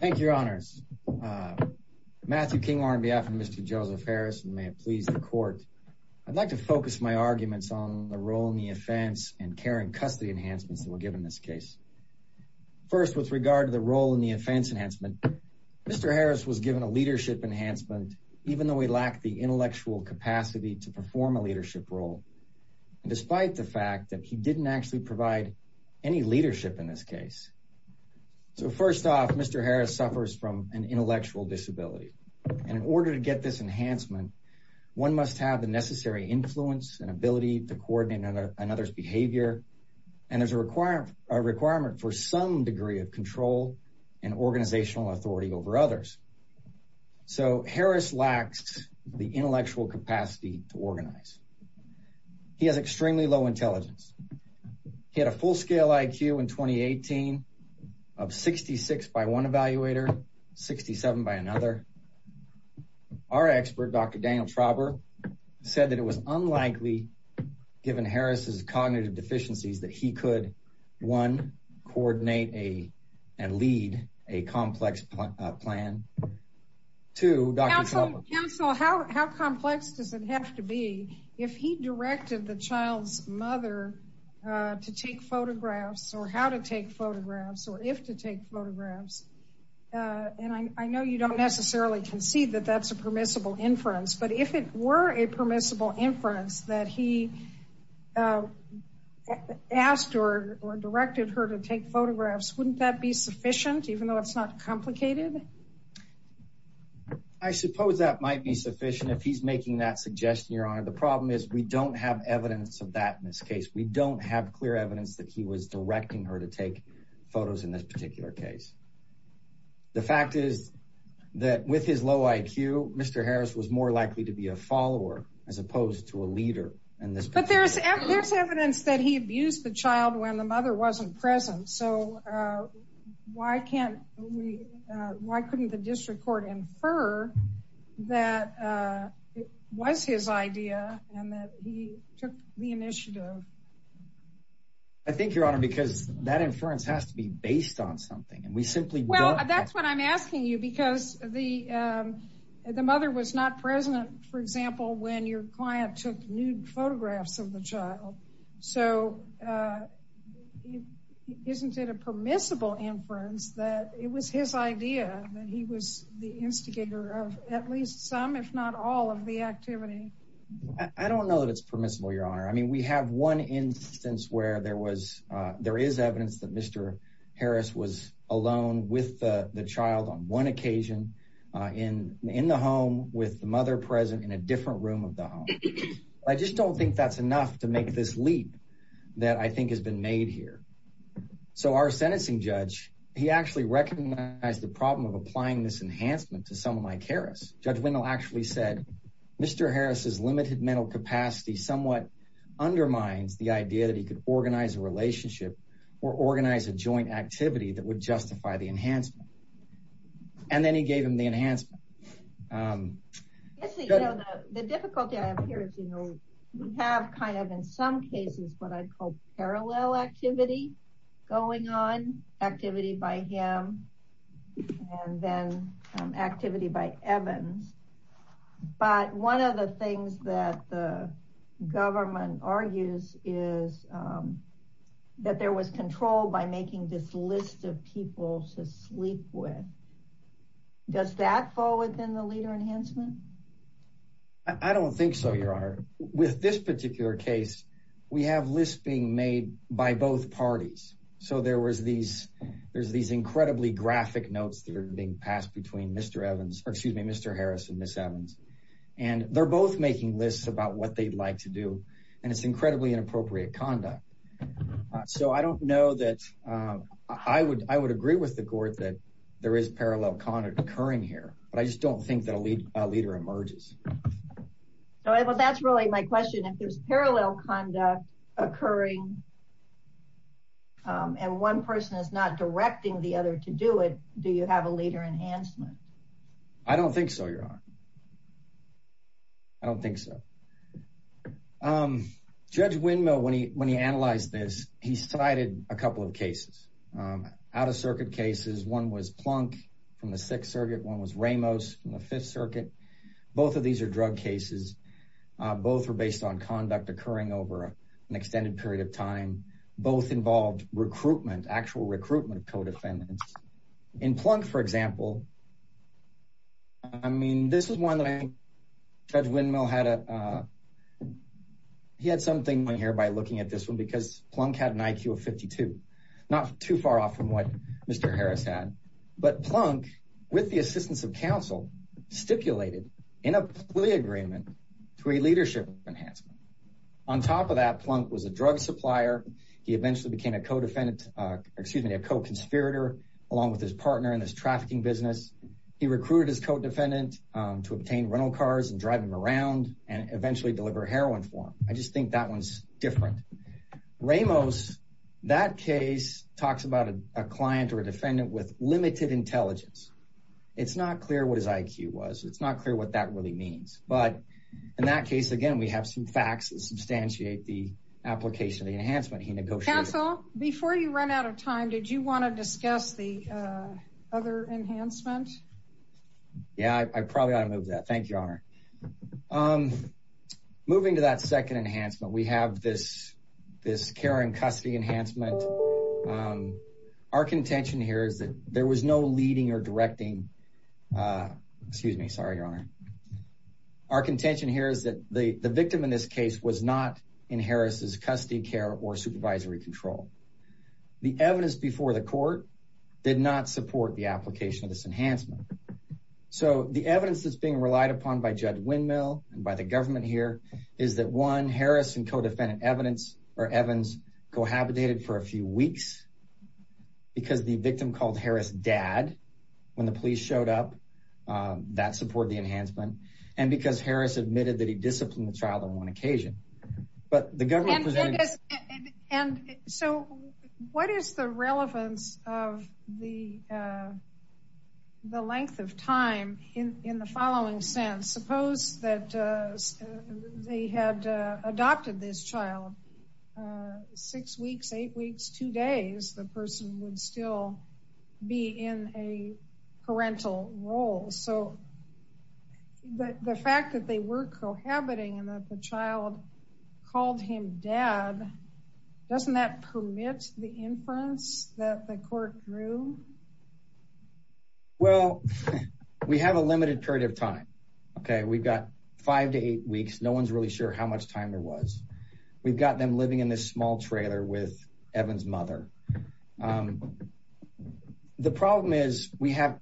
Thank you, your honors. Matthew King on behalf of Mr. Joseph Harris, and may it please the court, I'd like to focus my arguments on the role in the offense and care and custody enhancements that were given in this case. First, with regard to the role in the offense enhancement, Mr. Harris was given a leadership enhancement, even though he lacked the intellectual capacity to perform a leadership role. And despite the fact that he didn't actually provide any leadership in this case. So first off, Mr. Harris suffers from an intellectual disability. And in order to get this enhancement, one must have the necessary influence and ability to coordinate another's behavior. And there's a requirement for some degree of control and organizational authority over others. So Harris lacks the intellectual capacity to organize. He has extremely low intelligence. He had a full scale IQ in 2018 of 66 by one evaluator, 67 by another. Our expert Dr. Daniel Trauber said that it was unlikely, given Harris's cognitive deficiencies that he could one, coordinate a and lead a complex plan to Dr. Trauber. Counsel, how complex does it have to be if he directed the child's mother to take photographs or how to take photographs or if to take photographs? And I know you don't necessarily concede that that's a permissible inference. But if it were a permissible inference that he asked or directed her to take photographs, wouldn't that be sufficient, even though it's not complicated? I suppose that might be sufficient if he's making that suggestion, Your Honor. The problem is we don't have evidence of that in this case. We don't have clear evidence that he was directing her to take photos in this particular case. The fact is that with his low IQ, Mr. Harris was more likely to be a follower as opposed to a leader. But there's evidence that he abused the child when the mother wasn't present. So why couldn't the district court infer that it was his idea and that he took the initiative? I think, Your Honor, because that inference has to be based on something and we simply don't have... Well, that's what I'm asking you because the mother was not present, for example, when your client took nude photographs of the child. So isn't it a permissible inference that it was his idea that he was the instigator of at least some, if not all, of the activity? I don't know that it's permissible, Your Honor. I mean, we have one instance where there is evidence that Mr. Harris was alone with the child on one occasion in the home with the mother present in a different room of the home. I just don't think that's enough to make this leap that I think has been made here. So our sentencing judge, he actually recognized the problem of applying this enhancement to someone like Harris. Judge Wendell actually said, Mr. Harris's limited mental capacity somewhat undermines the idea that he could organize a relationship or organize a joint activity that would justify the enhancement. And then he gave him the enhancement. The difficulty I have here is, you know, we have kind of in some cases what I'd call parallel activity going on, activity by him and then activity by Evans. But one of the things that the government argues is that there was control by making this list of people to sleep with. Does that fall within the leader enhancement? I don't think so, Your Honor. With this particular case, we have lists being made by both parties. So there was these, there's these incredibly graphic notes that are being passed between Mr. Evans, or excuse me, Mr. Harris and Ms. Evans. And they're both making lists about what they'd do. And it's incredibly inappropriate conduct. So I don't know that I would agree with the court that there is parallel conduct occurring here. But I just don't think that a leader emerges. So that's really my question. If there's parallel conduct occurring, and one person is not directing the other to do it, do you have a leader enhancement? I don't think so, Your Honor. I don't think so. Judge Windmill, when he analyzed this, he cited a couple of cases. Out-of-circuit cases. One was Plunk from the Sixth Circuit. One was Ramos from the Fifth Circuit. Both of these are drug cases. Both were based on conduct occurring over an extended period of time. Both involved recruitment, actual recruitment of co-defendants. In Plunk, for example, I mean, this is one that Judge Windmill had a, he had something going here by looking at this one because Plunk had an IQ of 52. Not too far off from what Mr. Harris had. But Plunk, with the assistance of counsel, stipulated in a plea agreement to a leadership enhancement. On top of that, Plunk was a drug supplier. He eventually became a co-defendant, excuse me, a co-conspirator along with his partner in this trafficking business. He recruited his co-defendant to obtain rental cars and drive him around and eventually deliver heroin for him. I just think that one's different. Ramos, that case talks about a client or a defendant with limited intelligence. It's not clear what his IQ was. It's not clear what that really means. But in that case, again, we have some facts that substantiate the application of enhancement he negotiated. Counsel, before you run out of time, did you want to discuss the other enhancement? Yeah, I probably ought to move that. Thank you, Your Honor. Moving to that second enhancement, we have this care and custody enhancement. Our contention here is that there was no leading or directing, excuse me, sorry, Your Honor. Our contention here is that the victim in this case was not in Harris's custody care or supervisory control. The evidence before the court did not support the application of this enhancement. So the evidence that's being relied upon by Judge Windmill and by the government here is that one, Harris and co-defendant Evans cohabitated for a few weeks because the victim called Harris dad when the police showed up. That supported the enhancement. And because Harris admitted that he disciplined the child on one occasion. And so what is the relevance of the length of time in the following sense? Suppose that they had adopted this child six weeks, eight weeks, two days, the person would still be in a parental role. So the fact that they were cohabiting and that the child called him dad, doesn't that permit the inference that the court drew? Well, we have a limited period of time. Okay. We've got five to eight weeks. No one's really sure how much time there was. We've got them living in this small trailer with Evans' mother. The problem is we have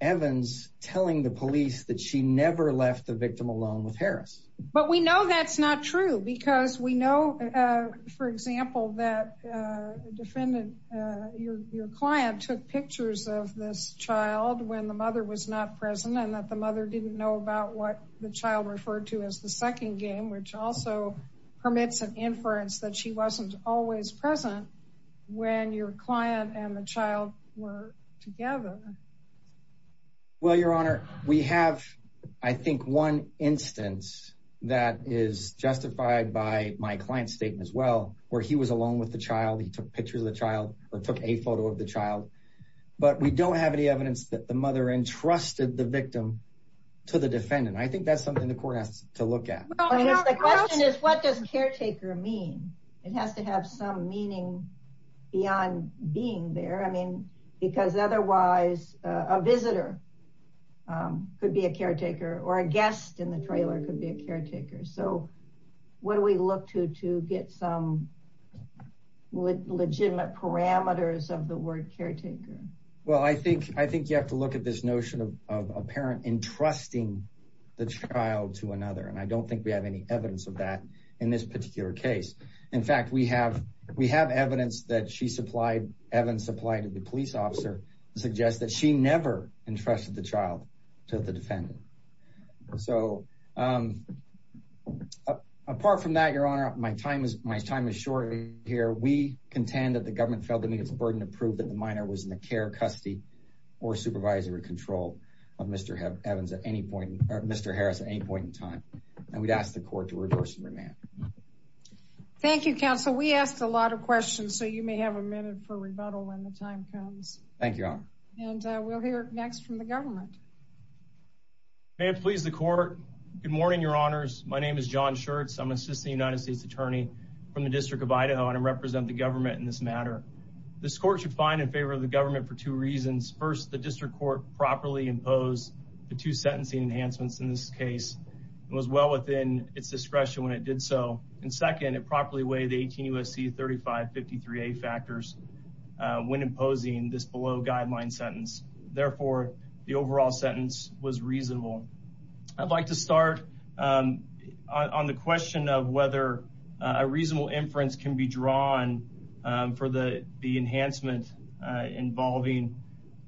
Evans telling the police that she never left the victim alone with Harris. But we know that's not true because we know, for example, that defendant, your client took pictures of this child when the mother was not present and that the mother didn't know about what the child referred to as the second game, which also permits an inference that she wasn't always present when your client and the child were together. Well, your honor, we have, I think one instance that is justified by my client's statement as he was alone with the child. He took pictures of the child or took a photo of the child, but we don't have any evidence that the mother entrusted the victim to the defendant. I think that's something the court has to look at. The question is, what does caretaker mean? It has to have some meaning beyond being there. I mean, because otherwise a visitor could be a caretaker or a guest in the trailer could be a caretaker. So what do we look to, to get some legitimate parameters of the word caretaker? Well, I think, I think you have to look at this notion of a parent entrusting the child to another, and I don't think we have any evidence of that in this particular case. In fact, we have, we have evidence that she supplied, evidence supplied to the police officer suggests that she never entrusted the child to the defendant. So apart from that, your honor, my time is, my time is short here. We contend that the government failed to meet its burden to prove that the minor was in the care, custody, or supervisory control of Mr. Evans at any point, Mr. Harris at any point in time, and we'd ask the court to reverse and remand. Thank you, counsel. We asked a lot of questions, so you may have a minute for rebuttal when the time comes. Thank you, your honor. And we'll hear next from the government. May it please the court. Good morning, your honors. My name is John Schertz. I'm an assistant United States attorney from the district of Idaho, and I represent the government in this matter. This court should find in favor of the government for two reasons. First, the district court properly imposed the two sentencing enhancements in this case. It was well within its discretion when it did so. And second, it properly weighed the 18 U.S.C. 3553A factors when imposing this below guideline sentence. Therefore, the overall sentence was reasonable. I'd like to start on the question of whether a reasonable inference can be drawn for the enhancement involving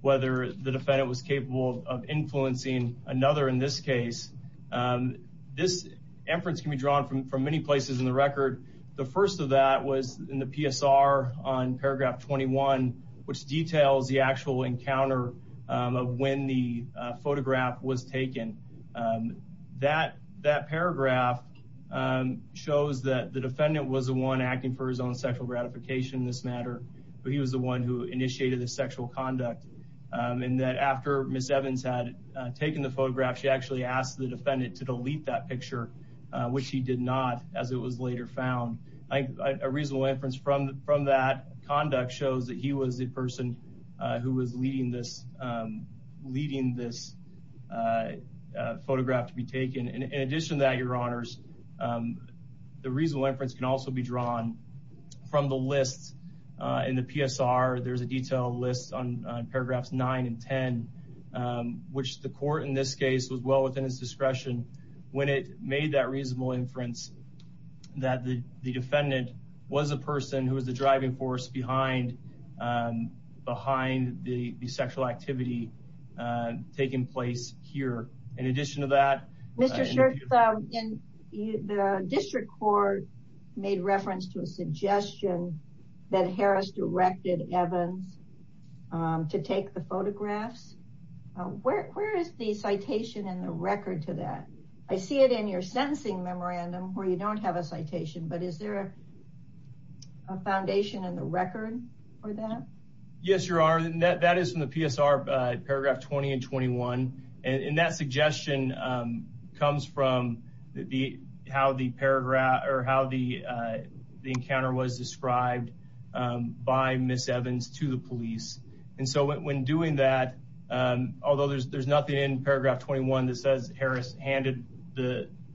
whether the defendant was capable of influencing another in this case. This inference can be drawn from many places in the record. The first of that was in the PSR on paragraph 21, which details the actual encounter of when the photograph was taken. That paragraph shows that the defendant was the one acting for his own sexual gratification in this matter, but he was the one who initiated the sexual conduct. And that after Ms. Evans had taken the photograph, she actually asked the defendant to delete that picture, which he did not as it was later found. A reasonable inference from that conduct shows that he was the person who was leading this photograph to be taken. In addition to that, your honors, the reasonable inference can also be drawn from the lists in the PSR. There's a detailed list on paragraphs 9 and 10, which the court in this case was well within his discretion when it made that reasonable inference that the defendant was a person who was the driving force behind the sexual activity taking place here. In addition to that, Mr. Shirk, in the district court made reference to a suggestion that Harris directed Evans to take the photographs. Where is the citation in the record to that? I see it in your sentencing memorandum where you don't have a citation, but is there a foundation in the record for that? Yes, your honor. That is from the PSR paragraph 20 and 21. And that suggestion comes from how the encounter was described by Ms. Evans to the police. And so when doing that, although there's nothing in paragraph 21 that says Harris handed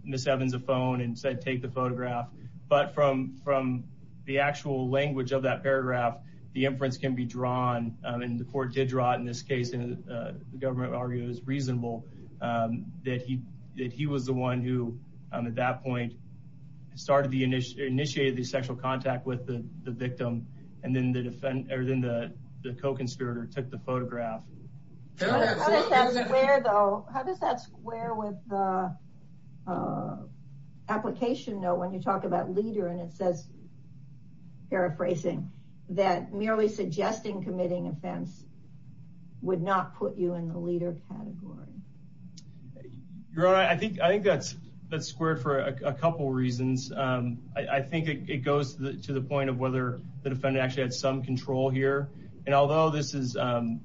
Ms. Evans a phone and said to take the photograph, but from the actual language of that paragraph, the inference can be drawn. And the court did draw it in this case. And the government argued it was reasonable that he was the one who, at that point, initiated the sexual contact with the victim. And then the co-conspirator took the photograph. How does that square with the application note when you talk about leader and it says, paraphrasing, that merely suggesting committing offense would not put you in the leader category? Your honor, I think that's squared for a couple reasons. I think it goes to the point of whether the defendant actually had some control here. And although the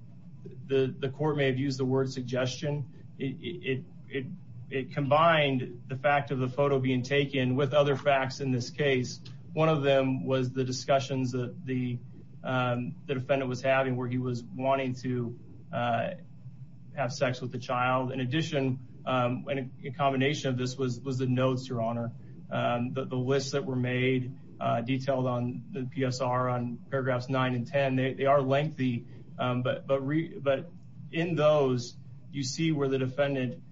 court may have used the word suggestion, it combined the fact of the photo being taken with other facts in this case. One of them was the discussions that the defendant was having where he was wanting to have sex with the child. In addition, a combination of this was the notes, your honor, the lists that were made detailed on the PSR on paragraphs nine and 10. They are lengthy, but in those, you see where the defendant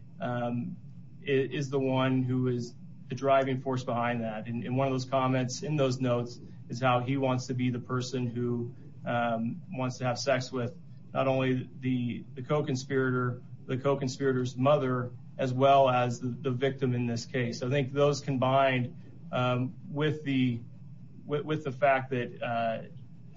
is the one who is the driving force behind that. And one of those comments in those notes is how he wants to be the person who wants to have sex with not only the co-conspirator, the co-conspirator's mother, as well as the victim in this case. I think those combined with the fact that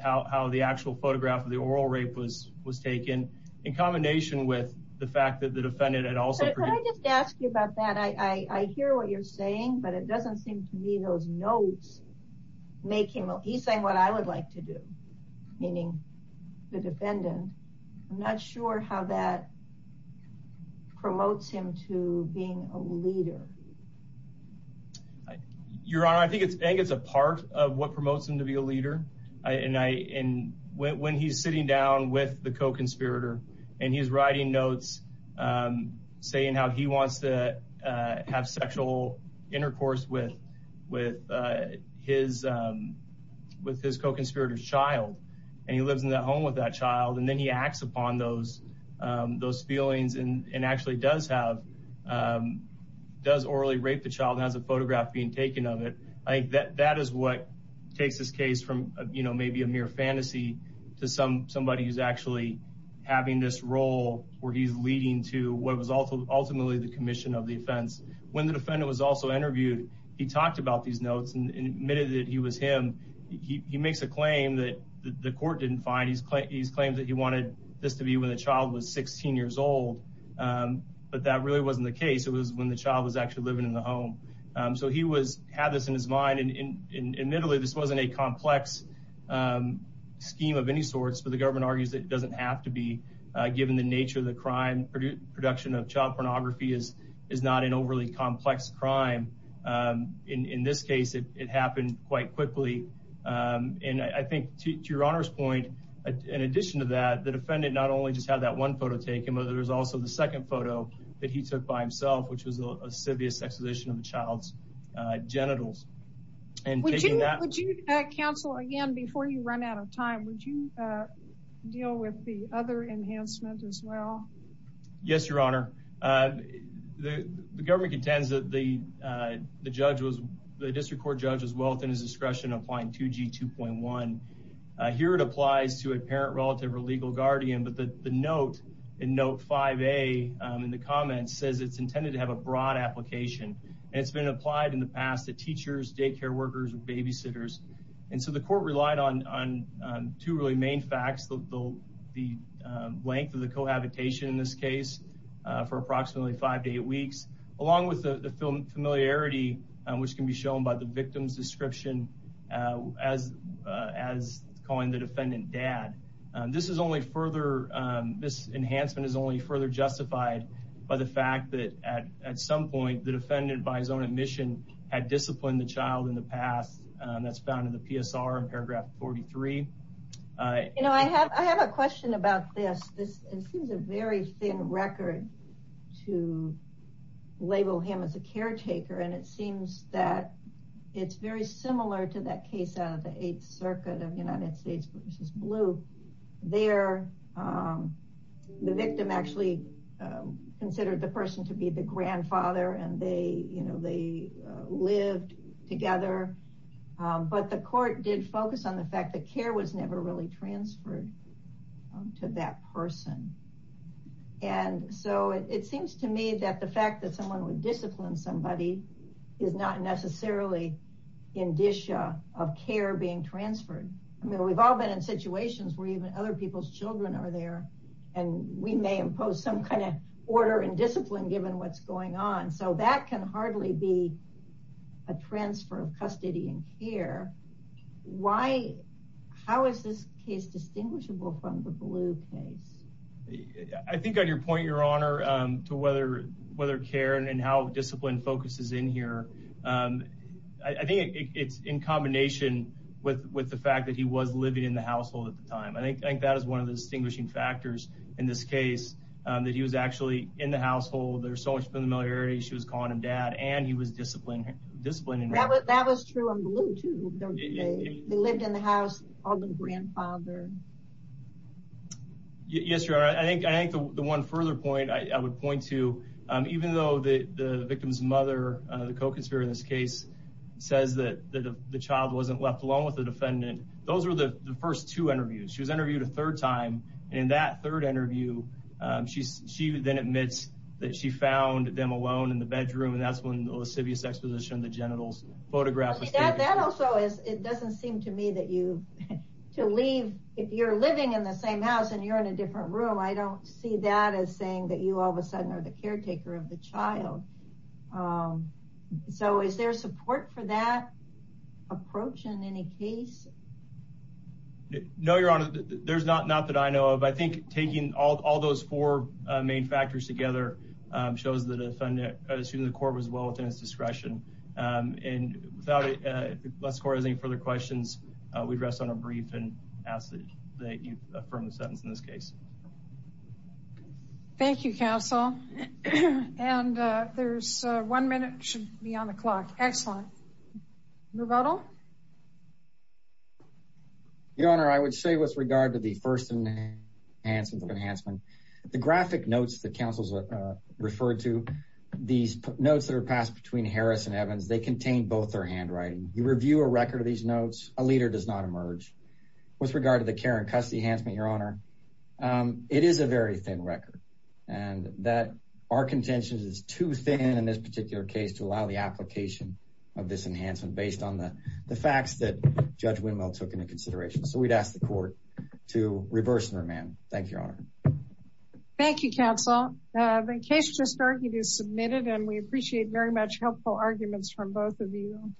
how the actual photograph of the oral rape was taken in combination with the fact that the defendant had also... Can I just ask you about that? I hear what you're saying, but it doesn't seem to me those notes make him... He's saying what I would like to do, meaning the defendant. I'm not sure how that promotes him to being a leader. Your honor, I think it's a part of what promotes him to be a leader. And when he's sitting down with the co-conspirator and he's writing notes saying how he wants to have sexual intercourse with his co-conspirator's child, and he lives in that home with that child, and then he acts upon those feelings and actually does have... Does orally rape the child and has a photograph being taken of it. I think that is what takes this case from maybe a mere fantasy to somebody who's actually having this role where he's leading to what was ultimately the commission of the offense. When the defendant was also interviewed, he talked about these notes and admitted that he he makes a claim that the court didn't find. He's claimed that he wanted this to be when the child was 16 years old, but that really wasn't the case. It was when the child was actually living in the home. So he had this in his mind. Admittedly, this wasn't a complex scheme of any sorts, but the government argues that it doesn't have to be given the nature of the crime. Production of child pornography is not an overly complex crime. In this case, it happened quite quickly. I think to your honor's point, in addition to that, the defendant not only just had that one photo taken, but there's also the second photo that he took by himself, which was a sevious exposition of the child's genitals. Would you counsel again, before you run out of time, would you deal with the other enhancement as well? Yes, your honor. The judge was, the district court judge was well within his discretion applying 2G 2.1. Here it applies to a parent, relative, or legal guardian, but the note in note 5A in the comments says it's intended to have a broad application and it's been applied in the past to teachers, daycare workers, and babysitters. And so the court relied on two really main facts, the length of the cohabitation in this case for approximately five to eight weeks, along with the familiarity which can be shown by the victim's description as calling the defendant dad. This is only further, this enhancement is only further justified by the fact that at some point the defendant, by his own admission, had disciplined the child in the past. That's found in the PSR in paragraph 43. You know, I have a question about this. This seems a very thin record to label him as a caretaker and it seems that it's very similar to that case out of the 8th circuit of United States v. Blue. There, the victim actually considered the person to be the grandfather and they, you know, they lived together. But the court did focus on the fact care was never really transferred to that person. And so it seems to me that the fact that someone would discipline somebody is not necessarily indicia of care being transferred. I mean, we've all been in situations where even other people's children are there and we may impose some kind of order and discipline given what's going on. So that can hardly be a transfer of custody and care. How is this case distinguishable from the Blue case? I think on your point, your honor, to whether care and how discipline focuses in here, I think it's in combination with the fact that he was living in the household at the time. I think that is one of the distinguishing factors in this case, that he was actually in the household. There's so much familiarity. She was calling him dad and he was disciplining her. That was true in Blue too. They lived in the house of the grandfather. Yes, your honor. I think the one further point I would point to, even though the victim's mother, the co-conspirator in this case, says that the child wasn't left alone with the defendant, those were the first two interviews. She was interviewed a third time and in that third she found them alone in the bedroom and that's when the Lascivious Exposition, the genitals photograph was taken. That also doesn't seem to me that if you're living in the same house and you're in a different room, I don't see that as saying that you all of a sudden are the caretaker of the child. So is there support for that approach in any case? No, your honor. There's four main factors together. It shows that the court was well within its discretion. And without it, if the court has any further questions, we'd rest on a brief and ask that you affirm the sentence in this case. Thank you, counsel. And there's one minute should be on the clock. Excellent. Rebuttal. Your honor, I would say with regard to the first enhancement, the graphic notes that counsels referred to, these notes that are passed between Harris and Evans, they contain both their handwriting. You review a record of these notes, a leader does not emerge. With regard to the care and custody enhancement, your honor, it is a very thin record and that our contention is too thin in this particular case to allow the application of this enhancement based on the facts that Judge Winwell took into consideration. So we'd ask the court to reverse their man. Thank you, your honor. Thank you, counsel. The case just argued is submitted and we appreciate very much helpful arguments from both of you.